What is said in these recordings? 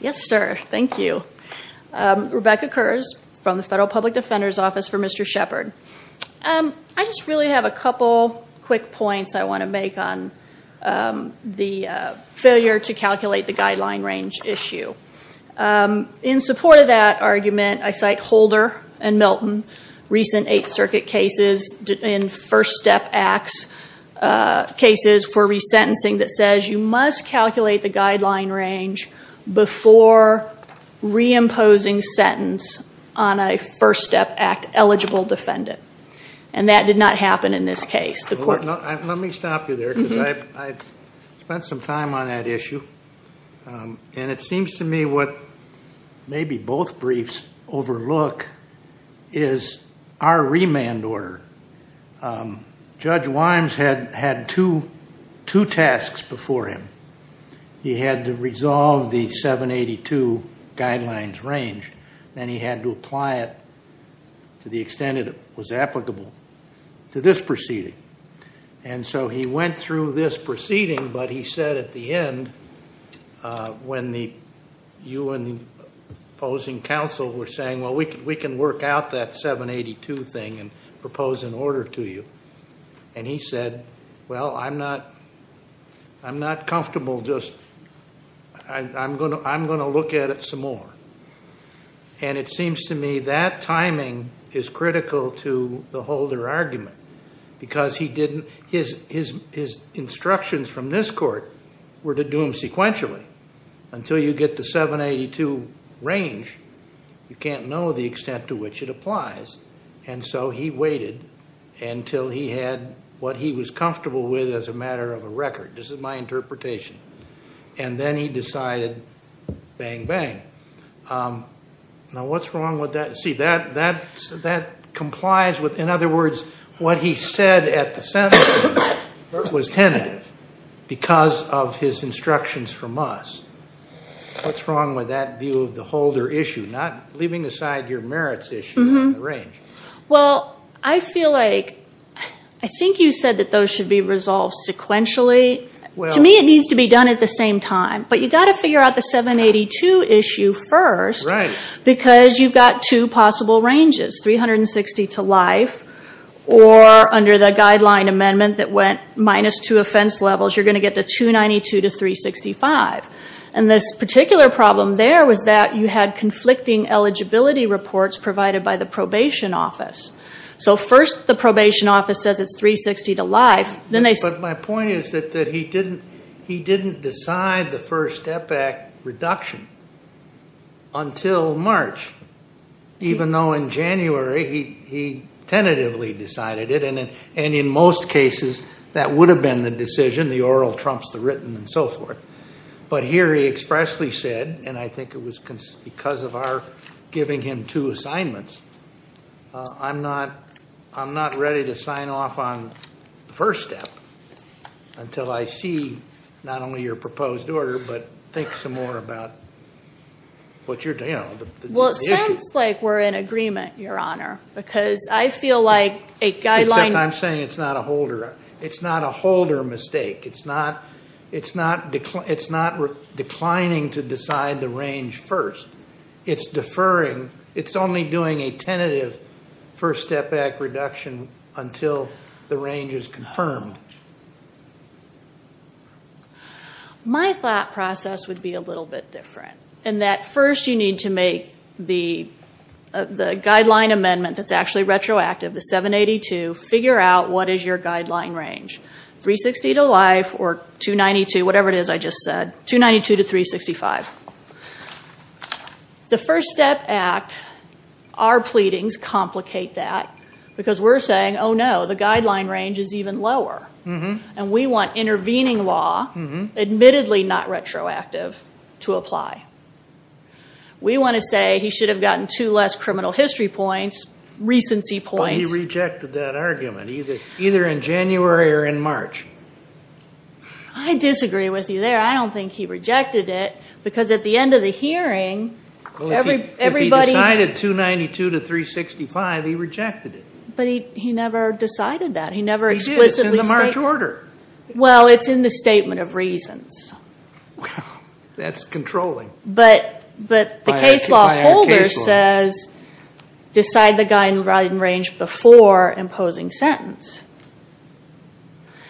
Yes, sir. Thank you. Rebecca Kurz from the Federal Public Defender's Office for Mr. Shephard. I just really have a couple quick points I want to make on the failure to calculate the guideline range issue. In support of that argument, I cite Holder and Milton, recent Eighth Circuit cases and First Step Act cases for resentencing that says you must calculate the guideline range before reimposing sentence on a First Step Act-eligible defendant. And that did not happen in this case. Let me stop you there because I spent some time on that issue. And it seems to me what maybe both briefs overlook is our remand order. Judge Wimes had two tasks before him. He had to resolve the 782 guidelines range, then he had to apply it to the extent it was applicable to this proceeding. And so he went through this proceeding, but he said at the end, when you and the opposing counsel were saying, well, we can work out that 782 thing and propose an order to you. And he said, well, I'm not comfortable. I'm going to look at it some more. And it seems to me that timing is critical to the Holder argument because his instructions from this court were to do them sequentially. Until you get the 782 range, you can't know the extent to which it applies. And so he waited until he had what he was comfortable with as a matter of a record. This is my interpretation. And then he decided, bang, bang. Now, what's wrong with that? See, that complies with, in other words, what he said at the sentence was tentative because of his instructions from us. What's wrong with that view of the Holder issue, not leaving aside your merits issue on the range? Well, I feel like, I think you said that those should be resolved sequentially. To me, it needs to be done at the same time. But you've got to figure out the 782 issue first because you've got two possible ranges, 360 to life or under the guideline amendment that went minus two offense levels, you're going to get the 292 to 365. And this particular problem there was that you had conflicting eligibility reports provided by the probation office. So first the probation office says it's 360 to life. But my point is that he didn't decide the first step back reduction until March, even though in January, he tentatively decided it. And in most cases, that would have been the decision, the oral trumps the written and so forth. But here he expressly said, and I think it was because of our giving him two assignments, I'm not ready to sign off on the first step until I see not only your proposed order, but think some more about what you're, you know, the issue. Well, it sounds like we're in agreement, Your Honor, because I feel like a guideline... Except I'm saying it's not a Holder mistake. It's not declining to decide the range first. It's deferring. It's only doing a tentative first step back reduction until the range is confirmed. My thought process would be a little bit different, in that first you need to make the guideline amendment that's actually retroactive, the 782, figure out what is your guideline range. 360 to life or 292, whatever it is I just said. 292 to 365. The First Step Act, our pleadings complicate that because we're saying, oh no, the guideline range is even lower. And we want intervening law, admittedly not retroactive, to apply. We want to say he should have gotten two less criminal history points, recency points. But he rejected that argument, either in January or in March. I disagree with you there. I don't think he rejected it because at the end of the hearing, everybody... If he decided 292 to 365, he rejected it. But he never decided that. He never explicitly states... He did. It's in the March order. Well, it's in the statement of reasons. That's controlling. But the case law holder says, decide the guideline range before imposing sentence.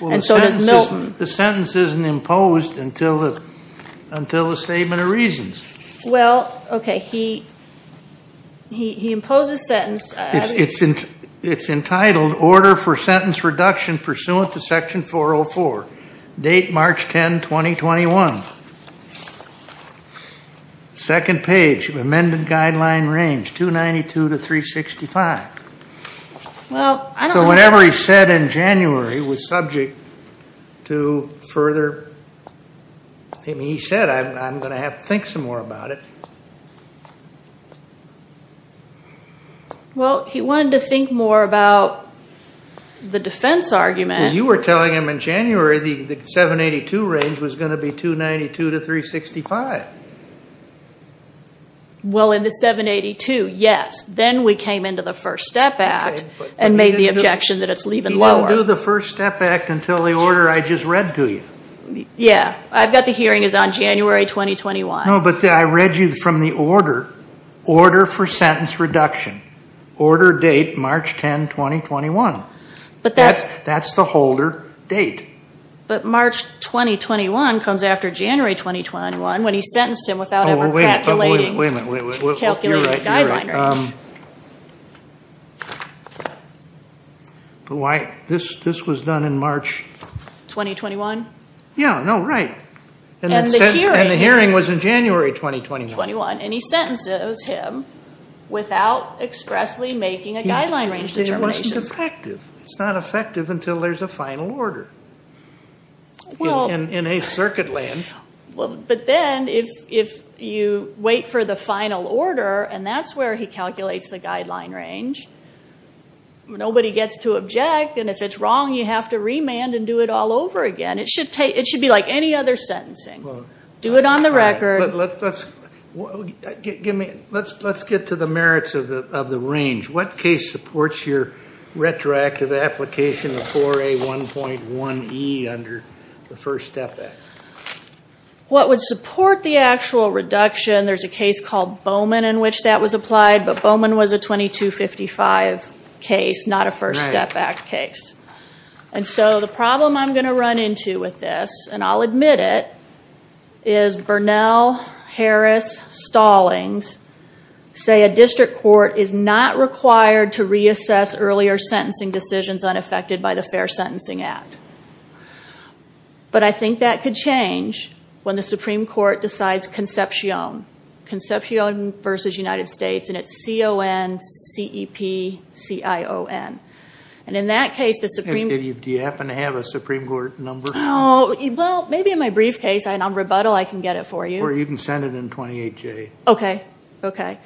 The sentence isn't imposed until the statement of reasons. Well, okay. He imposed a sentence. It's entitled, Order for Sentence Reduction Pursuant to Section 404, date March 10, 2021. Second page, amended guideline range, 292 to 365. So whatever he said in January was subject to further... He said, I'm going to have to think some more about it. Well, he wanted to think more about the defense argument. You were telling him in January, the 782 range was going to be 292 to 365. Well, in the 782, yes. Then we came into the First Step Act and made the objection that it's even lower. He didn't do the First Step Act until the order I just read to you. Yeah. I've got the hearing is on January, 2021. No, but I read you from the order, Order for Sentence Reduction. Order date, March 10, 2021. That's the holder date. But March, 2021 comes after January, 2021 when he sentenced him without ever calculating... Oh, wait a minute, wait a minute, wait a minute. Calculating the guideline range. But why... This was done in March... 2021? Yeah. No, right. And the hearing was in January, 2021. And he sentences him without expressly making a guideline range determination. It wasn't effective. It's not effective until there's a final order in a circuit land. But then if you wait for the final order and that's where he calculates the guideline range, nobody gets to object. And if it's wrong, you have to remand and do it all over again. It should be like any other sentencing. Do it on the record. But let's get to the merits of the range. What case supports your retroactive application of 4A1.1E under the First Step Act? What would support the actual reduction? There's a case called Bowman in which that was applied, but Bowman was a 2255 case, not a First Step Act case. And so the problem I'm going to run into with this, and I'll admit it, is Burnell, Harris, Stallings say a district court is not required to reassess earlier sentencing decisions unaffected by the Fair Sentencing Act. But I think that could change when the Supreme Court decides Concepcion. Concepcion versus United States, and it's C-O-N-C-E-P-C-I-O-N. And in that case, the Supreme Court... Do you happen to have a Supreme Court number? Oh, well, maybe in my briefcase, and on rebuttal, I can get it for you. Or you can send it in 28J. Okay, okay.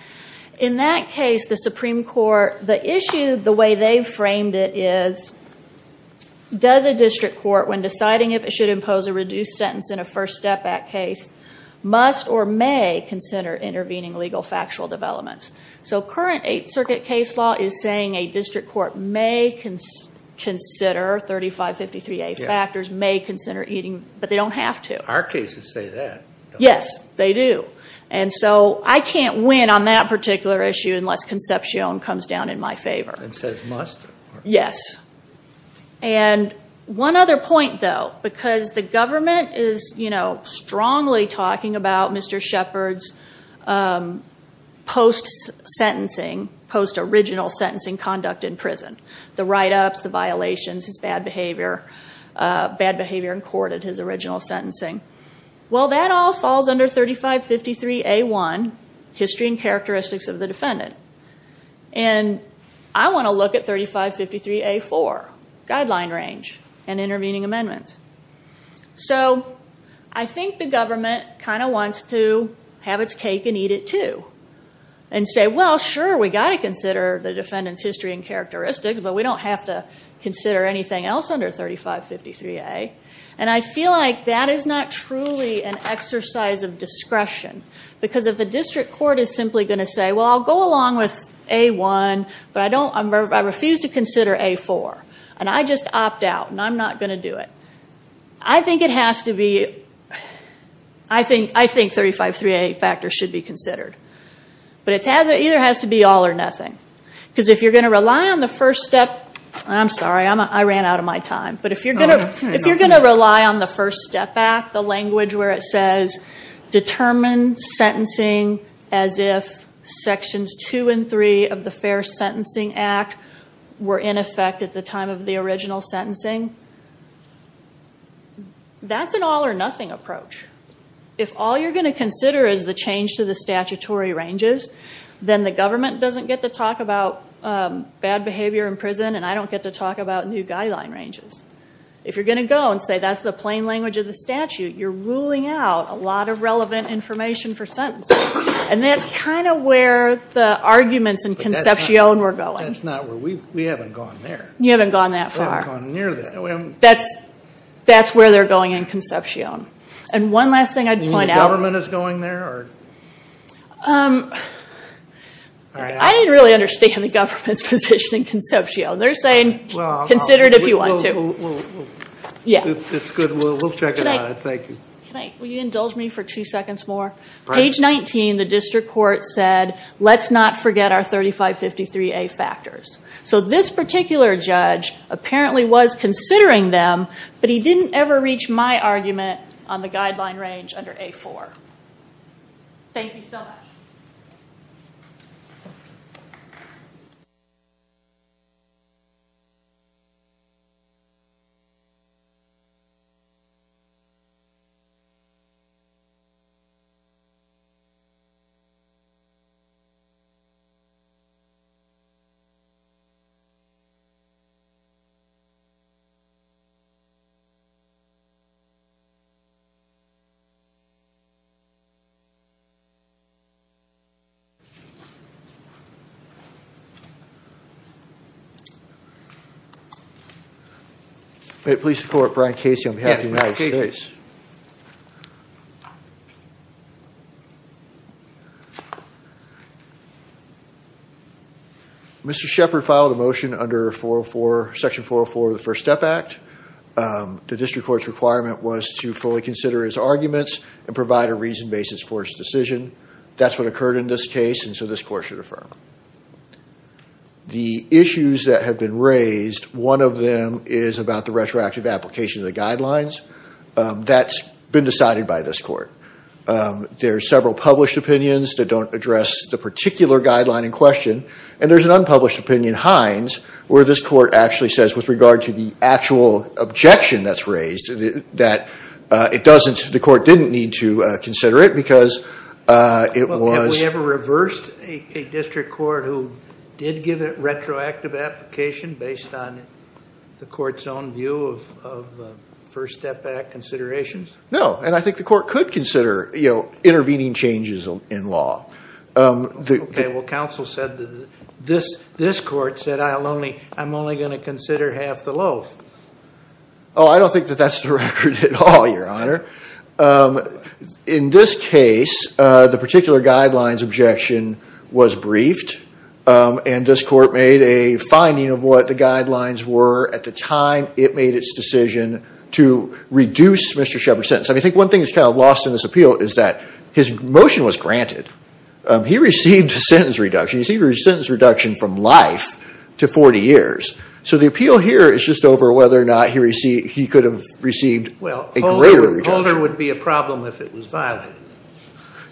In that case, the Supreme Court, the issue, the way they framed it is, does a district court, when deciding if it should impose a reduced sentence in a First Step Act case, must or may consider intervening legal factual developments? So current Eighth Circuit case law is saying a district court may consider 3553A factors, may consider eating, but they don't have to. Our cases say that. Yes, they do. And so I can't win on that particular issue unless Concepcion comes down in my favor. And says must. Yes. And one other point, though, because the government is strongly talking about Mr. Shepard's post-sentencing, post-original sentencing conduct in prison, the write-ups, the violations, his bad behavior, bad behavior in court at his original sentencing. Well, that all falls under 3553A1, History and Characteristics of the Defendant. And I want to look at 3553A4, Guideline Range and Intervening Amendments. So I think the government kind of wants to have its cake and eat it, too. And say, well, sure, we've got to consider the defendant's history and characteristics, but we don't have to consider anything else under 3553A. And I feel like that is not truly an exercise of discretion. Because if a district court is simply going to say, well, I'll go along with A1, but I refuse to consider A4. And I just opt out. And I'm not going to do it. I think it has to be, I think 3553A factors should be considered. But it either has to be all or nothing. Because if you're going to rely on the first step, I'm sorry, I ran out of my time. But if you're going to rely on the First Step Act, the language where it says, determine sentencing as if Sections 2 and 3 of the Fair Sentencing Act were in effect at the time of the original sentencing, that's an all or nothing approach. If all you're going to consider is the change to the statutory ranges, then the government doesn't get to talk about bad behavior in prison, and I don't get to talk about new guideline ranges. If you're going to go and say that's the plain language of the statute, you're ruling out a lot of relevant information for sentencing. And that's kind of where the arguments in Concepcion were going. That's not where, we haven't gone there. You haven't gone that far. We haven't gone near that. That's where they're going in Concepcion. And one last thing I'd point out. The government is going there? I didn't really understand the government's position in Concepcion. They're saying, consider it if you want to. It's good, we'll check it out. Thank you. Can I, will you indulge me for two seconds more? Page 19, the district court said, let's not forget our 3553A factors. So this particular judge apparently was considering them, but he didn't ever reach my argument on the guideline range under A4. Thank you so much. Thank you. May it please the court, Brian Casey on behalf of the United States. Mr. Shepard filed a motion under section 404 of the First Step Act. The district court's requirement was to fully consider his arguments and provide a reason basis for his decision. That's what occurred in this case, and so this court should affirm. The issues that have been raised, one of them is about the retroactive That's been decided by this court. There are several published opinions that don't address the particular guideline in question, and there's an unpublished opinion, Hines, where this court actually says, with regard to the actual objection that's raised, that it doesn't, the court didn't need to consider it because it was- Have we ever reversed a district court who did give a retroactive application based on the court's own view of First Step Act considerations? No, and I think the court could consider intervening changes in law. Okay, well, counsel said, this court said, I'm only going to consider half the loaf. Oh, I don't think that that's the record at all, your honor. In this case, the particular guidelines objection was briefed, and this court made a finding of what the guidelines were at the time it made its decision to reduce Mr. Sheppard's sentence. I think one thing that's kind of lost in this appeal is that his motion was granted. He received a sentence reduction. He received a sentence reduction from life to 40 years, so the appeal here is just over whether or not he could have received a greater reduction. Holder would be a problem if it was violated.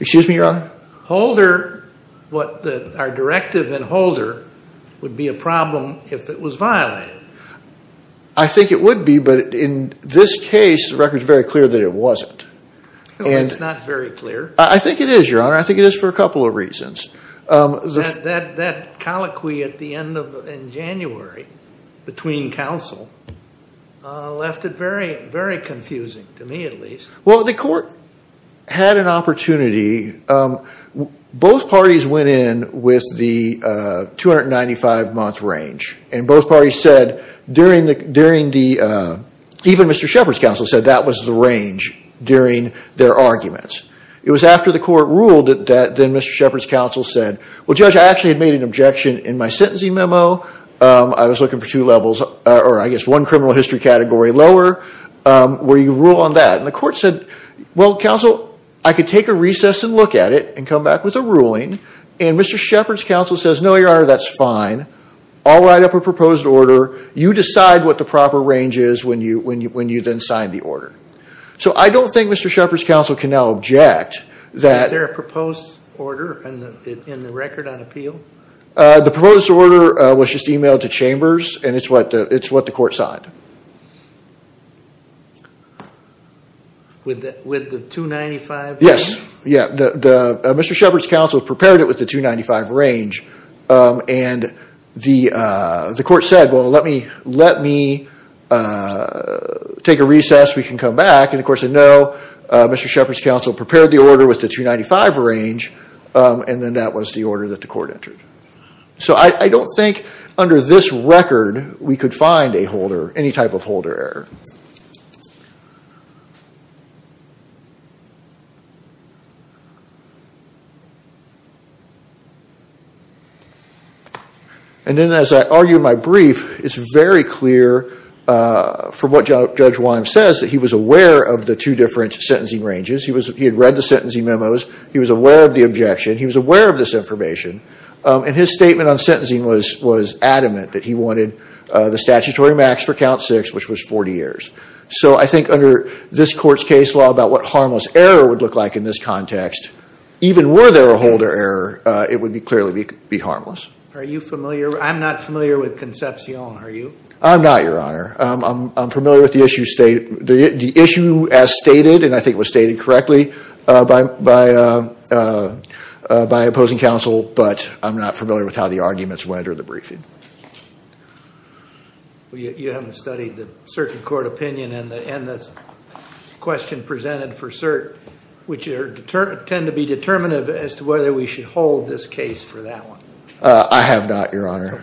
Excuse me, your honor? Holder, our directive in Holder would be a problem if it was violated. I think it would be, but in this case, the record's very clear that it wasn't. Well, it's not very clear. I think it is, your honor. I think it is for a couple of reasons. That colloquy at the end in January between counsel left it very confusing, to me at least. Well, the court had an opportunity. Both parties went in with the 295-month range, and both parties said, even Mr. Sheppard's counsel said that was the range during their arguments. It was after the court ruled that then Mr. Sheppard's counsel said, well, judge, I actually had made an objection in my sentencing memo. I was looking for two levels, or I guess one criminal history category lower, where you rule on that. The court said, well, counsel, I could take a recess and look at it and come back with a ruling, and Mr. Sheppard's counsel says, no, your honor, that's fine. I'll write up a proposed order. You decide what the proper range is when you then sign the order. I don't think Mr. Sheppard's counsel can now object that- Is there a proposed order in the record on appeal? The proposed order was just emailed to chambers, and it's what the court signed. With the 295? Yes. Yeah, Mr. Sheppard's counsel prepared it with the 295 range, and the court said, well, let me take a recess. We can come back, and of course, a no. Mr. Sheppard's counsel prepared the order with the 295 range, and then that was the order that the court entered. So I don't think under this record we could find a holder, any type of holder error. And then as I argue in my brief, it's very clear from what Judge Wyham says that he was aware of the two different sentencing ranges. He had read the sentencing memos. He was aware of the objection. He was aware of this information, and his statement on sentencing was adamant that he wanted the statutory max for count six, which was 40 years. So I think under this court's case law about what harmless error would look like in this context, even were there a holder error, it would clearly be harmless. Are you familiar? I'm not familiar with Concepcion, are you? I'm not, Your Honor. I'm familiar with the issue as stated, and I think it was stated correctly by opposing counsel, but you haven't studied the circuit court opinion in this question presented for cert, which tend to be determinative as to whether we should hold this case for that one. I have not, Your Honor.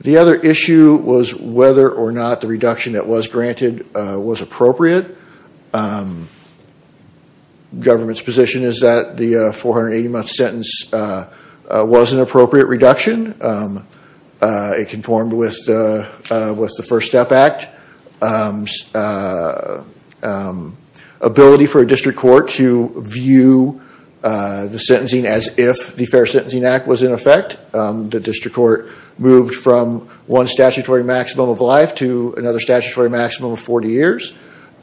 The other issue was whether or not the reduction that was granted was appropriate. The government's position is that the 480-month sentence was an appropriate reduction. It conformed with the First Step Act's ability for a district court to view the sentencing as if the Fair Sentencing Act was in effect. The district court moved from one statutory maximum of life to another statutory maximum of 40 years.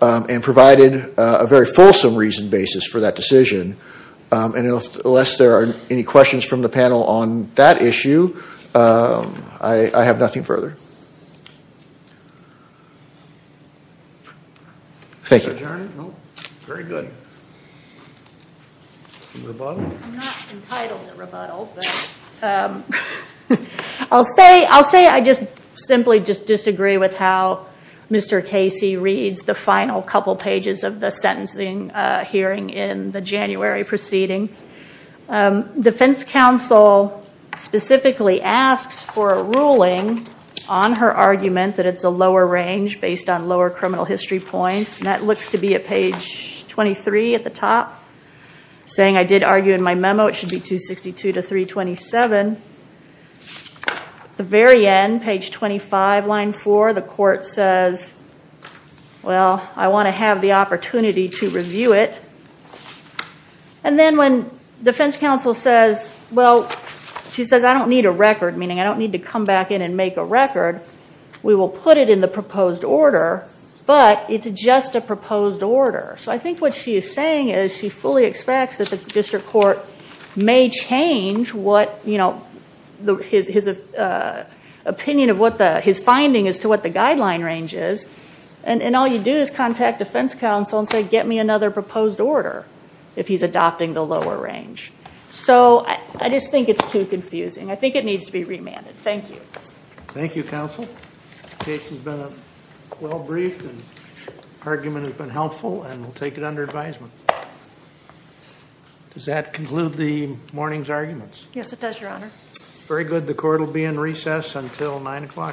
It provided a very fulsome reason basis for that decision, and unless there are any questions from the panel on that issue, I have nothing further. Thank you, Your Honor. Very good. I'm not entitled to rebuttal, but I'll say I just simply disagree with how Mr. Casey reads the final couple pages of the sentencing hearing in the January proceeding. Defense counsel specifically asks for a ruling on her argument that it's a lower range based on lower criminal history points, and that looks to be at page 23 at the top, saying I did argue in my memo it should be 262 to 327. At the very end, page 25, line 4, the court says, well, I want to have the opportunity to review it. And then when defense counsel says, well, she says, I don't need a record, meaning I don't need to come back in and make a record. We will put it in the proposed order, but it's just a proposed order. So I think what she is saying is she fully expects that the district court may change his finding as to what the guideline range is, and all you do is contact defense counsel and say, get me another proposed order if he's adopting the lower range. So I just think it's too confusing. I think it needs to be remanded. Thank you. Thank you, counsel. Case has been well briefed, and argument has been helpful, and we'll take it under advisement. Does that conclude the morning's arguments? Yes, it does, your honor. Very good. The court will be in recess until 9 o'clock.